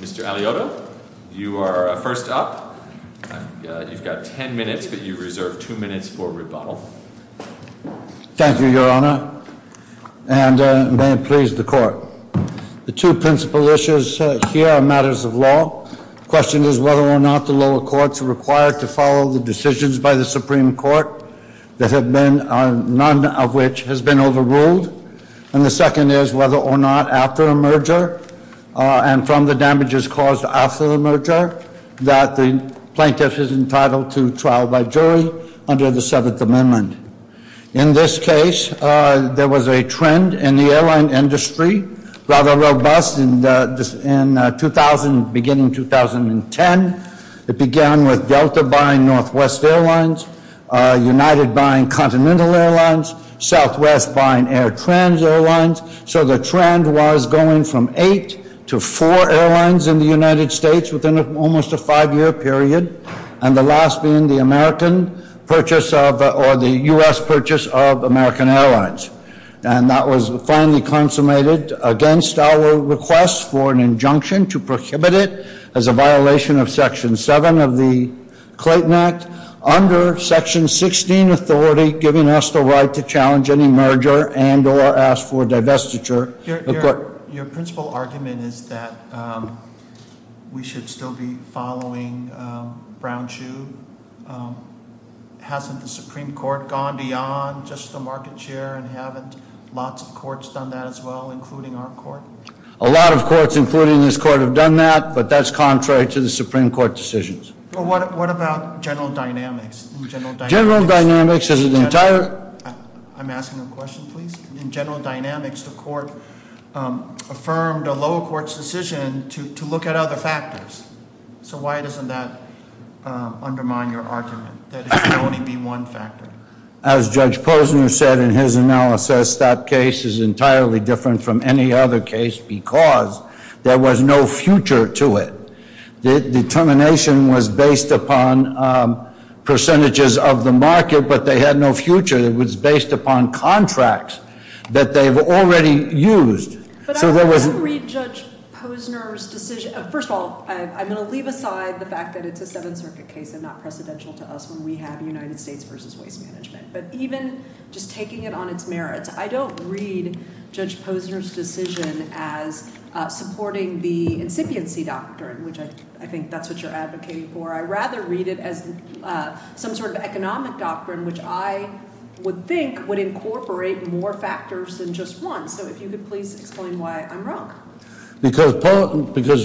Mr. Alioto, you are first up. You've got ten minutes, but you reserve two minutes for rebuttal. Thank you, Your Honor, and may it please the Court. The two principal issues here are matters of law. The question is whether or not the lower courts are required to follow the decisions by the Supreme Court, none of which has been overruled. And the second is whether or not, after a merger and from the damages caused after the merger, that the plaintiff is entitled to trial by jury under the Seventh Amendment. In this case, there was a trend in the airline industry, rather robust, beginning in 2010. It began with Delta buying Northwest Airlines, United buying Continental Airlines, Southwest buying Air Trans Airlines. So the trend was going from eight to four airlines in the United States within almost a five-year period, and the last being the U.S. purchase of American Airlines. And that was finally consummated against our request for an injunction to prohibit it as a violation of Section 7 of the Clayton Act, under Section 16 authority, giving us the right to challenge any merger and or ask for divestiture. Your principal argument is that we should still be following Brown-Chu. Hasn't the Supreme Court gone beyond just the market share and haven't lots of courts done that as well, including our court? A lot of courts, including this court, have done that, but that's contrary to the Supreme Court decisions. What about general dynamics? General dynamics is an entire- I'm asking a question, please. In general dynamics, the court affirmed a lower court's decision to look at other factors. So why doesn't that undermine your argument, that it should only be one factor? As Judge Posner said in his analysis, that case is entirely different from any other case because there was no future to it. The determination was based upon percentages of the market, but they had no future. It was based upon contracts that they've already used. But I don't read Judge Posner's decision- First of all, I'm going to leave aside the fact that it's a Seventh Circuit case and not precedential to us when we have United States v. Waste Management. But even just taking it on its merits, I don't read Judge Posner's decision as supporting the incipiency doctrine, which I think that's what you're advocating for. I'd rather read it as some sort of economic doctrine, which I would think would incorporate more factors than just one. So if you could please explain why I'm wrong. Because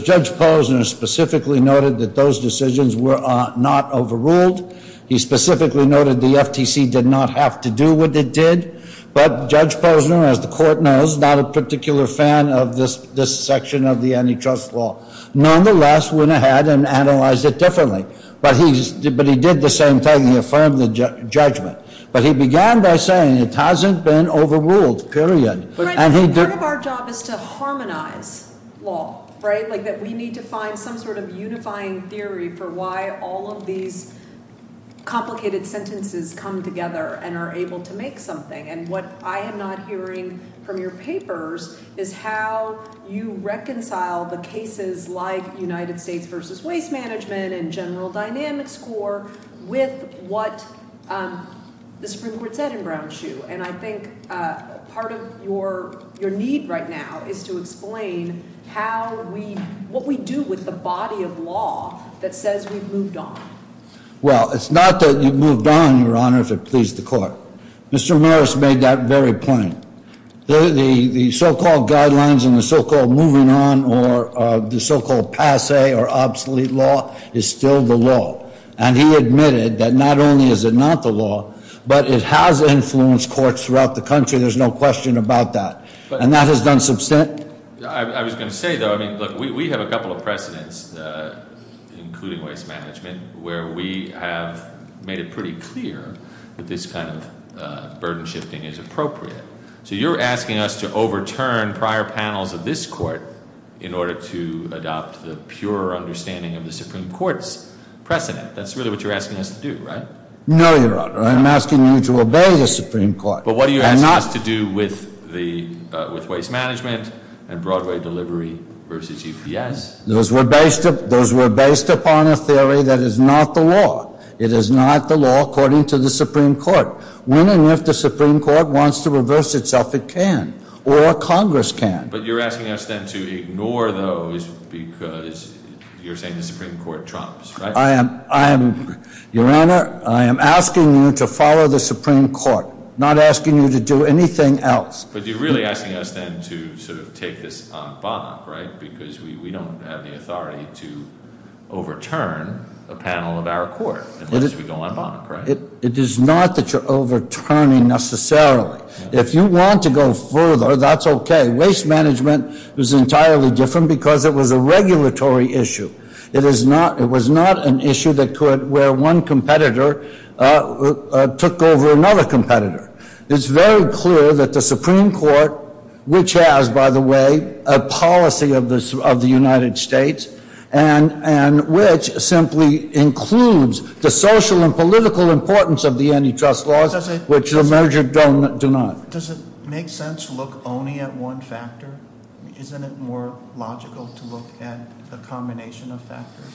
Judge Posner specifically noted that those decisions were not overruled. He specifically noted the FTC did not have to do what it did. But Judge Posner, as the court knows, is not a particular fan of this section of the antitrust law. Nonetheless, went ahead and analyzed it differently. But he did the same thing. He affirmed the judgment. But he began by saying it hasn't been overruled, period. But part of our job is to harmonize law, right? Like we need to find some sort of unifying theory for why all of these complicated sentences come together and are able to make something. And what I am not hearing from your papers is how you reconcile the cases like United States versus Waste Management and General Dynamics score with what the Supreme Court said in Brown Shoe. And I think part of your need right now is to explain how we, what we do with the body of law that says we've moved on. Well, it's not that you've moved on, Your Honor, if it pleased the court. Mr. Morris made that very point. The so-called guidelines and the so-called moving on or the so-called passe or obsolete law is still the law. And he admitted that not only is it not the law, but it has influenced courts throughout the country. There's no question about that. And that has done some sense. I was going to say, though, I mean, look, we have a couple of precedents, including waste management, where we have made it pretty clear that this kind of burden shifting is appropriate. So you're asking us to overturn prior panels of this court in order to adopt the pure understanding of the Supreme Court's precedent. That's really what you're asking us to do, right? No, Your Honor. I'm asking you to obey the Supreme Court. But what are you asking us to do with the, with waste management and Broadway delivery versus EPS? Those were based upon a theory that is not the law. It is not the law according to the Supreme Court. When and if the Supreme Court wants to reverse itself, it can, or Congress can. But you're asking us then to ignore those because you're saying the Supreme Court trumps, right? I am, Your Honor, I am asking you to follow the Supreme Court, not asking you to do anything else. But you're really asking us then to sort of take this on bonk, right? Because we don't have the authority to overturn a panel of our court unless we go on bonk, right? It is not that you're overturning necessarily. If you want to go further, that's okay. Waste management was entirely different because it was a regulatory issue. It is not, it was not an issue that could, where one competitor took over another competitor. It's very clear that the Supreme Court, which has, by the way, a policy of the United States, and which simply includes the social and political importance of the antitrust laws, which the merger do not. Does it make sense to look only at one factor? Isn't it more logical to look at a combination of factors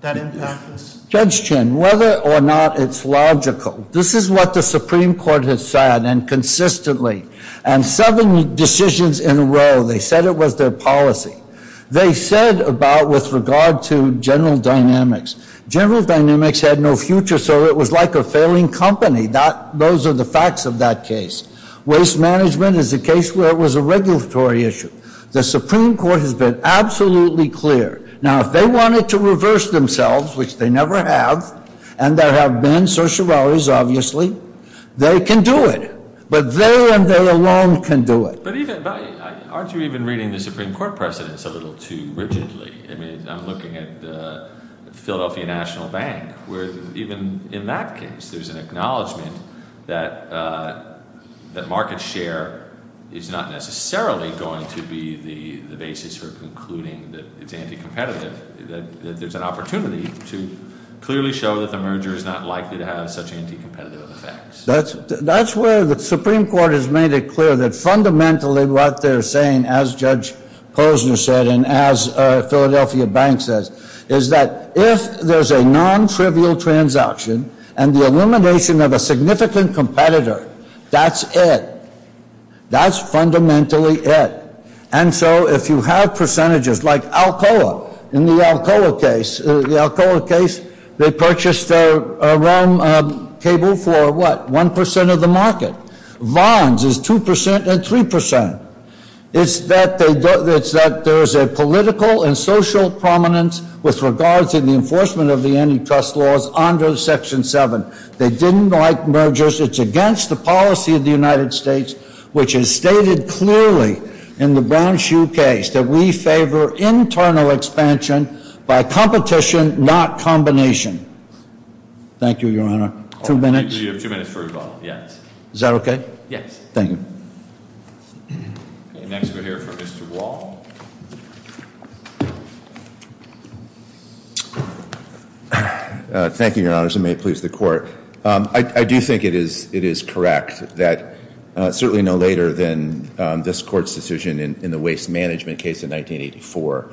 that impact this? Judge Chin, whether or not it's logical. This is what the Supreme Court has said, and consistently, and seven decisions in a row. They said it was their policy. They said about with regard to general dynamics, general dynamics had no future, so it was like a failing company. Those are the facts of that case. Waste management is a case where it was a regulatory issue. The Supreme Court has been absolutely clear. Now, if they wanted to reverse themselves, which they never have, and there have been social values, obviously, they can do it. But they and they alone can do it. But even, aren't you even reading the Supreme Court precedents a little too rigidly? I mean, I'm looking at the Philadelphia National Bank, where even in that case, there's an acknowledgment that market share is not necessarily going to be the basis for concluding that it's anti-competitive, that there's an opportunity to clearly show that the merger is not likely to have such anti-competitive effects. That's where the Supreme Court has made it clear that fundamentally what they're saying, as Judge Posner said, and as Philadelphia Bank says, is that if there's a non-trivial transaction and the elimination of a significant competitor, that's it. That's fundamentally it. And so if you have percentages like Alcoa, in the Alcoa case, the Alcoa case, they purchased their realm cable for what? One percent of the market. Vons is two percent and three percent. It's that there's a political and social prominence with regards to the enforcement of the antitrust laws under Section 7. They didn't like mergers. It's against the policy of the United States, which is stated clearly in the Brown-Shoe case, that we favor internal expansion by competition, not combination. Thank you, Your Honor. Two minutes? We have two minutes for rebuttal, yes. Is that okay? Yes. Thank you. Okay, next we'll hear from Mr. Wall. Thank you, Your Honors, and may it please the Court. I do think it is correct that certainly no later than this Court's decision in the waste management case in 1984,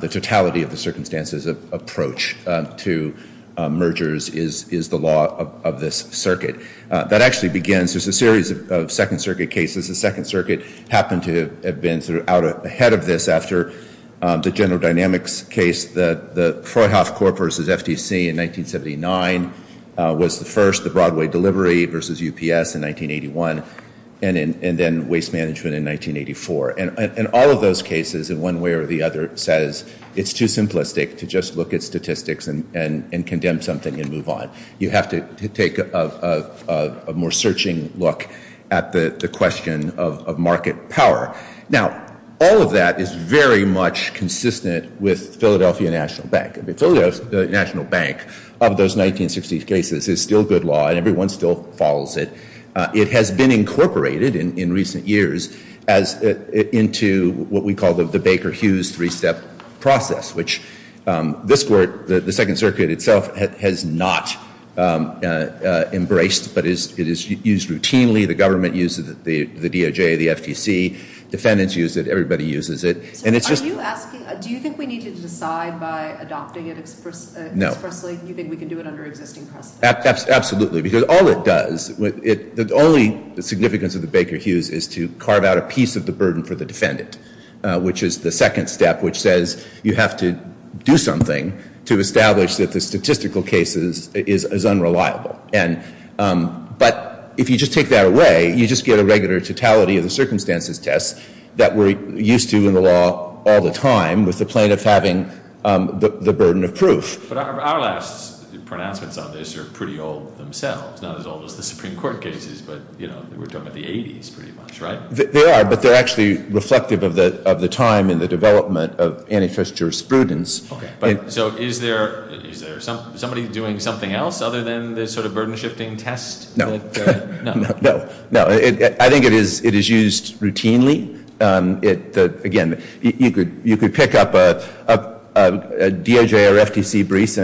the totality of the circumstances of approach to mergers is the law of this circuit. That actually begins. There's a series of Second Circuit cases. The Second Circuit happened to have been sort of out ahead of this after the General Dynamics case, the Freyhof Corp versus FTC in 1979 was the first, the Broadway Delivery versus UPS in 1981, and then waste management in 1984. And all of those cases, in one way or the other, says it's too simplistic to just look at statistics and condemn something and move on. You have to take a more searching look at the question of market power. Now, all of that is very much consistent with Philadelphia National Bank. The Philadelphia National Bank of those 1960s cases is still good law, and everyone still follows it. It has been incorporated in recent years into what we call the Baker-Hughes three-step process, which this Court, the Second Circuit itself, has not embraced, but it is used routinely. The government uses the DOJ, the FTC. Defendants use it. Everybody uses it. And it's just- Are you asking, do you think we need to decide by adopting it expressly? No. Do you think we can do it under existing precedent? Absolutely. Because all it does, the only significance of the Baker-Hughes is to carve out a piece of the burden for the defendant, which is the second step, which says you have to do something to establish that the statistical case is unreliable. But if you just take that away, you just get a regular totality of the circumstances test that we're used to in the law all the time, with the plaintiff having the burden of proof. But our last pronouncements on this are pretty old themselves, not as old as the Supreme Court cases, but, you know, we're talking about the 80s pretty much, right? They are, but they're actually reflective of the time and the development of antitrust jurisprudence. Okay. So is there somebody doing something else other than this sort of burden-shifting test? No. No. No. I think it is used routinely. Again, you could pick up a DOJ or FTC brief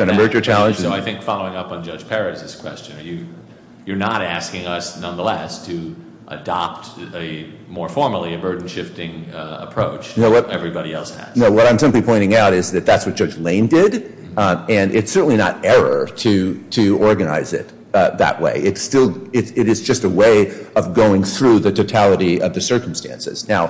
on a merger challenge. So I think following up on Judge Perez's question, you're not asking us, nonetheless, to adopt a more formally a burden-shifting approach that everybody else has. No, what I'm simply pointing out is that that's what Judge Lane did, and it's certainly not error to organize it that way. It is just a way of going through the totality of the circumstances. Now,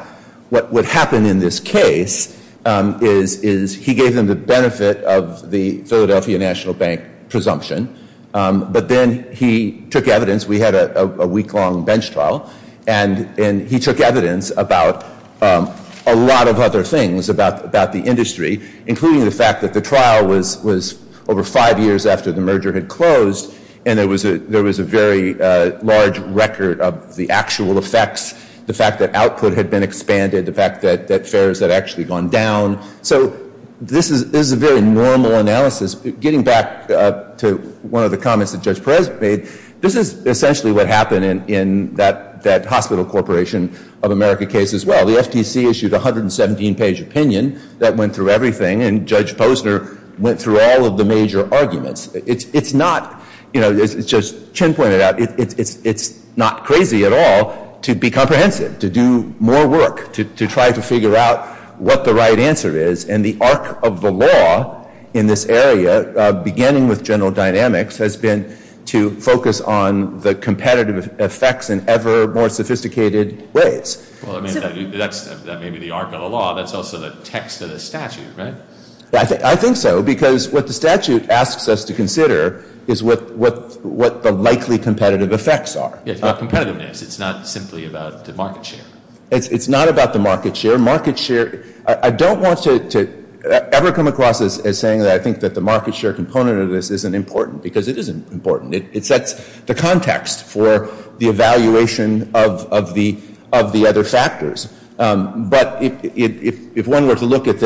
what happened in this case is he gave them the benefit of the Philadelphia National Bank presumption, but then he took evidence. We had a week-long bench trial, and he took evidence about a lot of other things about the industry, including the fact that the trial was over five years after the merger had closed, and there was a very large record of the actual effects, the fact that output had been expanded, the fact that fares had actually gone down. So this is a very normal analysis. Getting back to one of the comments that Judge Perez made, this is essentially what happened in that Hospital Corporation of America case as well. The FTC issued a 117-page opinion that went through everything, and Judge Posner went through all of the major arguments. As Judge Chin pointed out, it's not crazy at all to be comprehensive, to do more work, to try to figure out what the right answer is, and the arc of the law in this area, beginning with general dynamics, has been to focus on the competitive effects in ever more sophisticated ways. Well, that may be the arc of the law. That's also the text of the statute, right? I think so, because what the statute asks us to consider is what the likely competitive effects are. Competitiveness, it's not simply about the market share. It's not about the market share. I don't want to ever come across as saying that I think that the market share component of this isn't important, because it isn't important. It sets the context for the evaluation of the other factors. But if one were to look at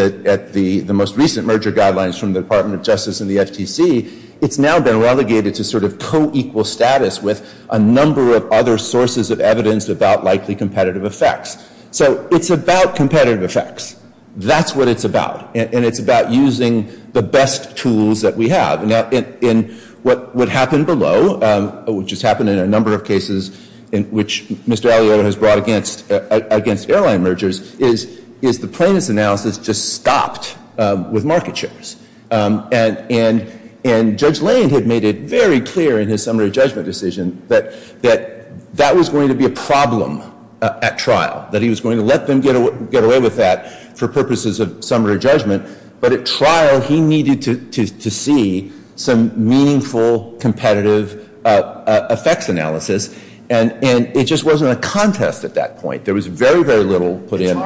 the most recent merger guidelines from the Department of Justice and the FTC, it's now been relegated to sort of co-equal status with a number of other sources of evidence about likely competitive effects. So it's about competitive effects. That's what it's about, and it's about using the best tools that we have. Now, in what would happen below, which has happened in a number of cases in which Mr. Aliotta has brought against airline mergers, is the plaintiff's analysis just stopped with market shares. And Judge Lane had made it very clear in his summary judgment decision that that was going to be a problem at trial, that he was going to let them get away with that for purposes of summary judgment. But at trial, he needed to see some meaningful competitive effects analysis. And it just wasn't a contest at that point. There was very, very little put in.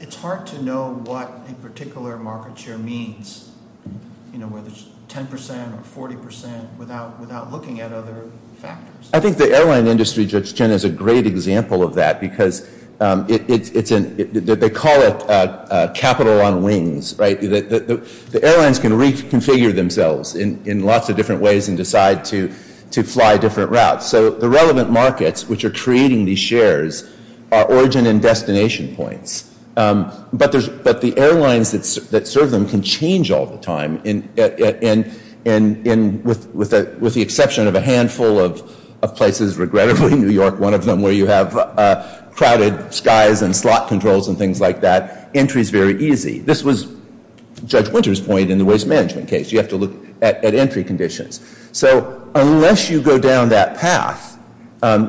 It's hard to know what a particular market share means, whether it's 10 percent or 40 percent, without looking at other factors. I think the airline industry, Judge Chen, is a great example of that, because they call it capital on wings, right? The airlines can reconfigure themselves in lots of different ways and decide to fly different routes. So the relevant markets which are creating these shares are origin and destination points. But the airlines that serve them can change all the time, with the exception of a handful of places, regrettably New York, one of them where you have crowded skies and slot controls and things like that. Entry is very easy. This was Judge Winter's point in the waste management case. You have to look at entry conditions. So unless you go down that path,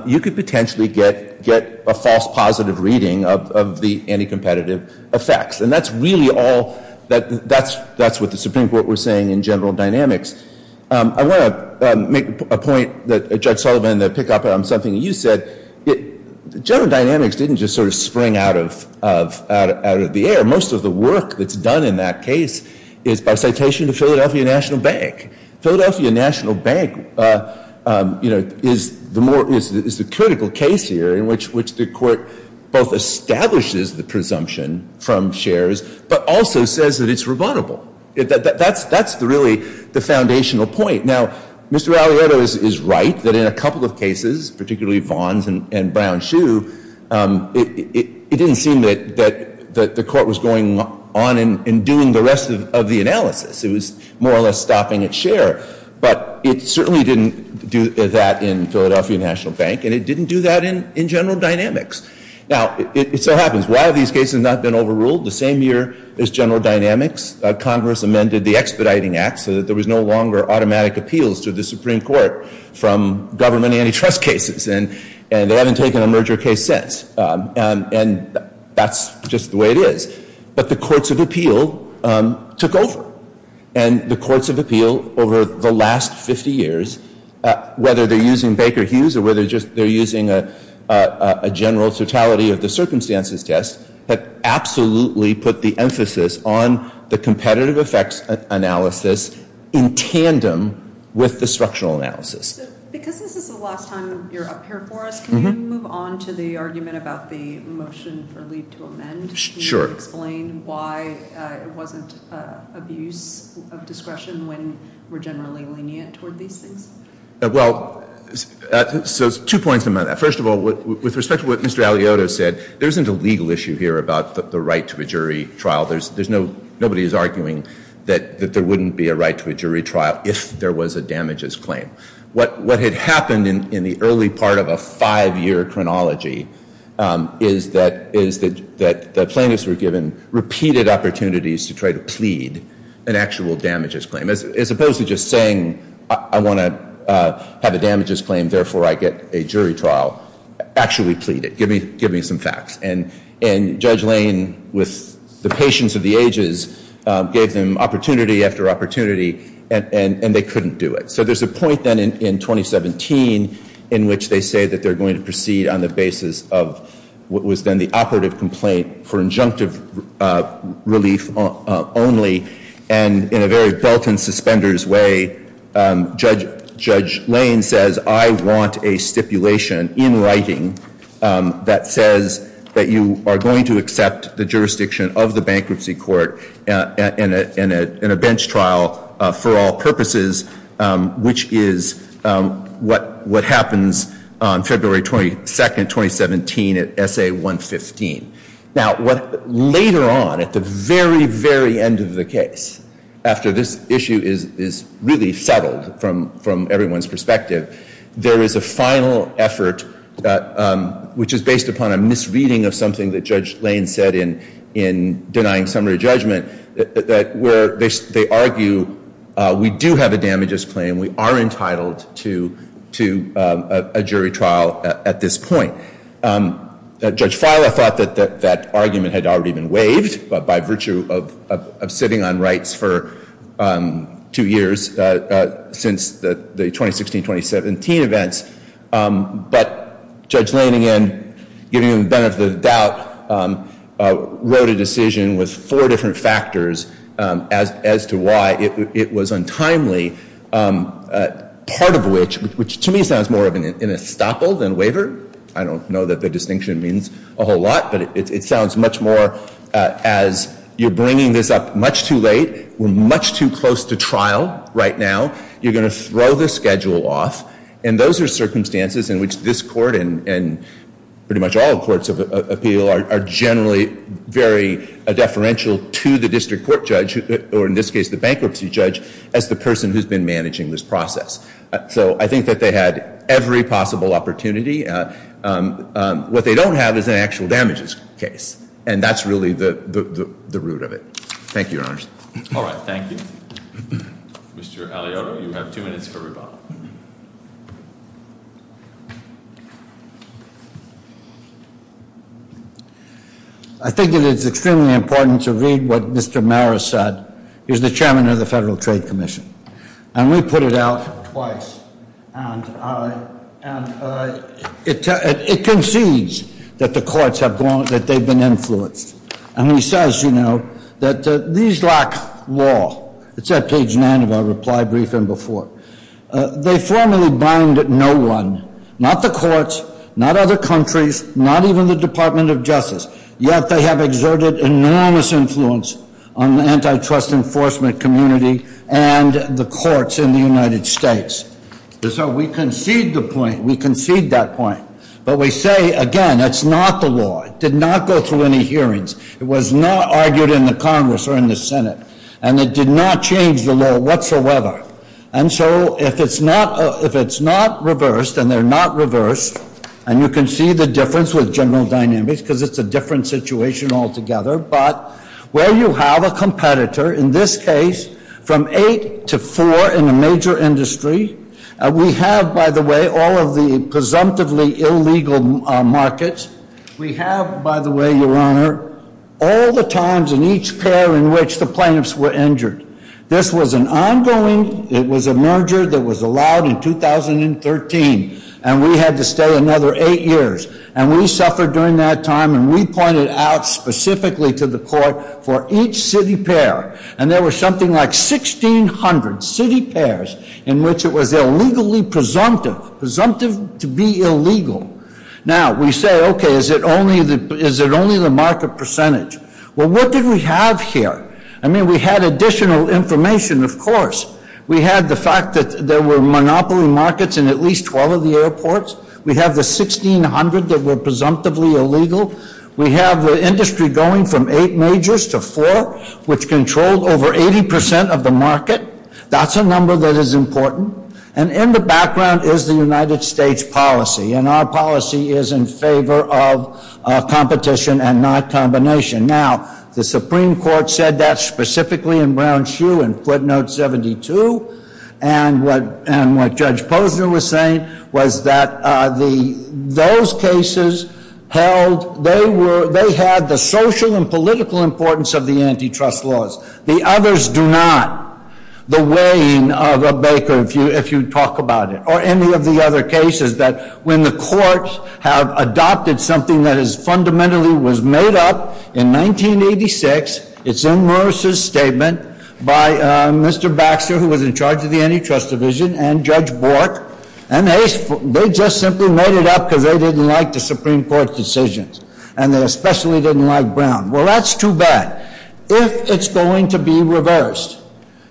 you could potentially get a false positive reading of the anti-competitive effects. And that's really all that's what the Supreme Court was saying in general dynamics. I want to make a point that Judge Sullivan, to pick up on something you said, general dynamics didn't just sort of spring out of the air. Most of the work that's done in that case is by citation to Philadelphia National Bank. Philadelphia National Bank is the critical case here in which the court both establishes the presumption from shares, but also says that it's rebuttable. That's really the foundational point. Now, Mr. Aliotto is right that in a couple of cases, particularly Vaughn's and Brown-Shue, it didn't seem that the court was going on and doing the rest of the analysis. It was more or less stopping at share. But it certainly didn't do that in Philadelphia National Bank, and it didn't do that in general dynamics. Now, it so happens, while these cases have not been overruled, the same year as general dynamics, Congress amended the Expediting Act so that there was no longer automatic appeals to the Supreme Court from government antitrust cases. And they haven't taken a merger case since. And that's just the way it is. But the courts of appeal took over. And the courts of appeal over the last 50 years, whether they're using Baker-Hughes or whether they're using a general totality of the circumstances test, have absolutely put the emphasis on the competitive effects analysis in tandem with the structural analysis. Because this is the last time you're up here for us, can we move on to the argument about the motion for leave to amend? Sure. Can you explain why it wasn't abuse of discretion when we're generally lenient toward these things? Well, so two points about that. First of all, with respect to what Mr. Alioto said, there isn't a legal issue here about the right to a jury trial. There's no – nobody is arguing that there wouldn't be a right to a jury trial if there was a damages claim. What had happened in the early part of a five-year chronology is that plaintiffs were given repeated opportunities to try to plead an actual damages claim, as opposed to just saying, I want to have a damages claim, therefore I get a jury trial, actually plead it, give me some facts. And Judge Lane, with the patience of the ages, gave them opportunity after opportunity, and they couldn't do it. So there's a point then in 2017 in which they say that they're going to proceed on the basis of what was then the operative complaint for injunctive relief only, and in a very belt-and-suspenders way, Judge Lane says, I want a stipulation in writing that says that you are going to accept the jurisdiction of the bankruptcy court in a bench trial for all purposes, which is what happens on February 22, 2017 at SA 115. Now, later on, at the very, very end of the case, after this issue is really settled from everyone's perspective, there is a final effort, which is based upon a misreading of something that Judge Lane said in denying summary judgment, that where they argue we do have a damages claim, we are entitled to a jury trial at this point. Judge Feiler thought that that argument had already been waived by virtue of sitting on rights for two years since the 2016-2017 events, but Judge Lane, again, giving them the benefit of the doubt, wrote a decision with four different factors as to why it was untimely, part of which, which to me sounds more of an estoppel than a waiver. I don't know that the distinction means a whole lot, but it sounds much more as you're bringing this up much too late. We're much too close to trial right now. You're going to throw the schedule off, and those are circumstances in which this court and pretty much all courts of appeal are generally very deferential to the district court judge, or in this case the bankruptcy judge, as the person who's been managing this process. So I think that they had every possible opportunity. What they don't have is an actual damages case, and that's really the root of it. Thank you, Your Honors. All right, thank you. Mr. Aliotto, you have two minutes for rebuttal. I think it is extremely important to read what Mr. Maris said. He's the chairman of the Federal Trade Commission, and we put it out twice, and it concedes that the courts have gone, that they've been influenced. And he says, you know, that these lack law. It's at page nine of our reply briefing before. They formally bind no one, not the courts, not other countries, not even the Department of Justice, yet they have exerted enormous influence on the antitrust enforcement community and the courts in the United States. So we concede the point. We concede that point. But we say, again, that's not the law. It did not go through any hearings. It was not argued in the Congress or in the Senate, and it did not change the law whatsoever. And so if it's not reversed, and they're not reversed, and you can see the difference with general dynamics because it's a different situation altogether, but where you have a competitor, in this case, from eight to four in a major industry, we have, by the way, all of the presumptively illegal markets. We have, by the way, Your Honor, all the times in each pair in which the plaintiffs were injured. This was an ongoing, it was a merger that was allowed in 2013, and we had to stay another eight years. And we suffered during that time, and we pointed out specifically to the court for each city pair. And there were something like 1,600 city pairs in which it was illegally presumptive, presumptive to be illegal. Now, we say, okay, is it only the market percentage? Well, what did we have here? I mean, we had additional information, of course. We had the fact that there were monopoly markets in at least 12 of the airports. We have the 1,600 that were presumptively illegal. We have the industry going from eight majors to four, which controlled over 80% of the market. That's a number that is important. And in the background is the United States policy. And our policy is in favor of competition and not combination. Now, the Supreme Court said that specifically in Brown-Hsu in footnote 72. And what Judge Posner was saying was that those cases held, they had the social and political importance of the antitrust laws. The others do not. The weighing of a baker, if you talk about it, or any of the other cases, that when the courts have adopted something that has fundamentally was made up in 1986, it's in Morris' statement by Mr. Baxter, who was in charge of the antitrust division, and Judge Bork. And they just simply made it up because they didn't like the Supreme Court's decisions. And they especially didn't like Brown. Well, that's too bad. If it's going to be reversed,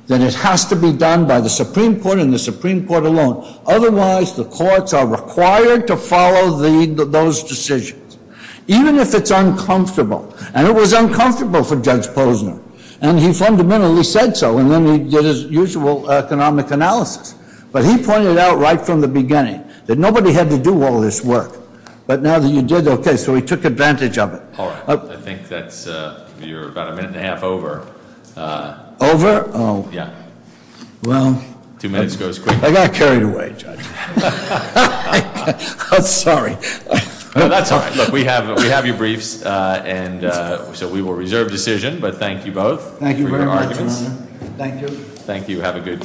then it has to be done by the Supreme Court and the Supreme Court alone. Otherwise, the courts are required to follow those decisions, even if it's uncomfortable. And it was uncomfortable for Judge Posner. And he fundamentally said so. And then he did his usual economic analysis. But he pointed out right from the beginning that nobody had to do all this work. But now that you did, okay, so he took advantage of it. All right. I think that's, you're about a minute and a half over. Over? Oh. Yeah. Well. Two minutes goes quickly. I got carried away, Judge. I'm sorry. That's all right. Look, we have your briefs. And so we will reserve decision. But thank you both. Thank you very much. Thank you. Thank you. Have a good day.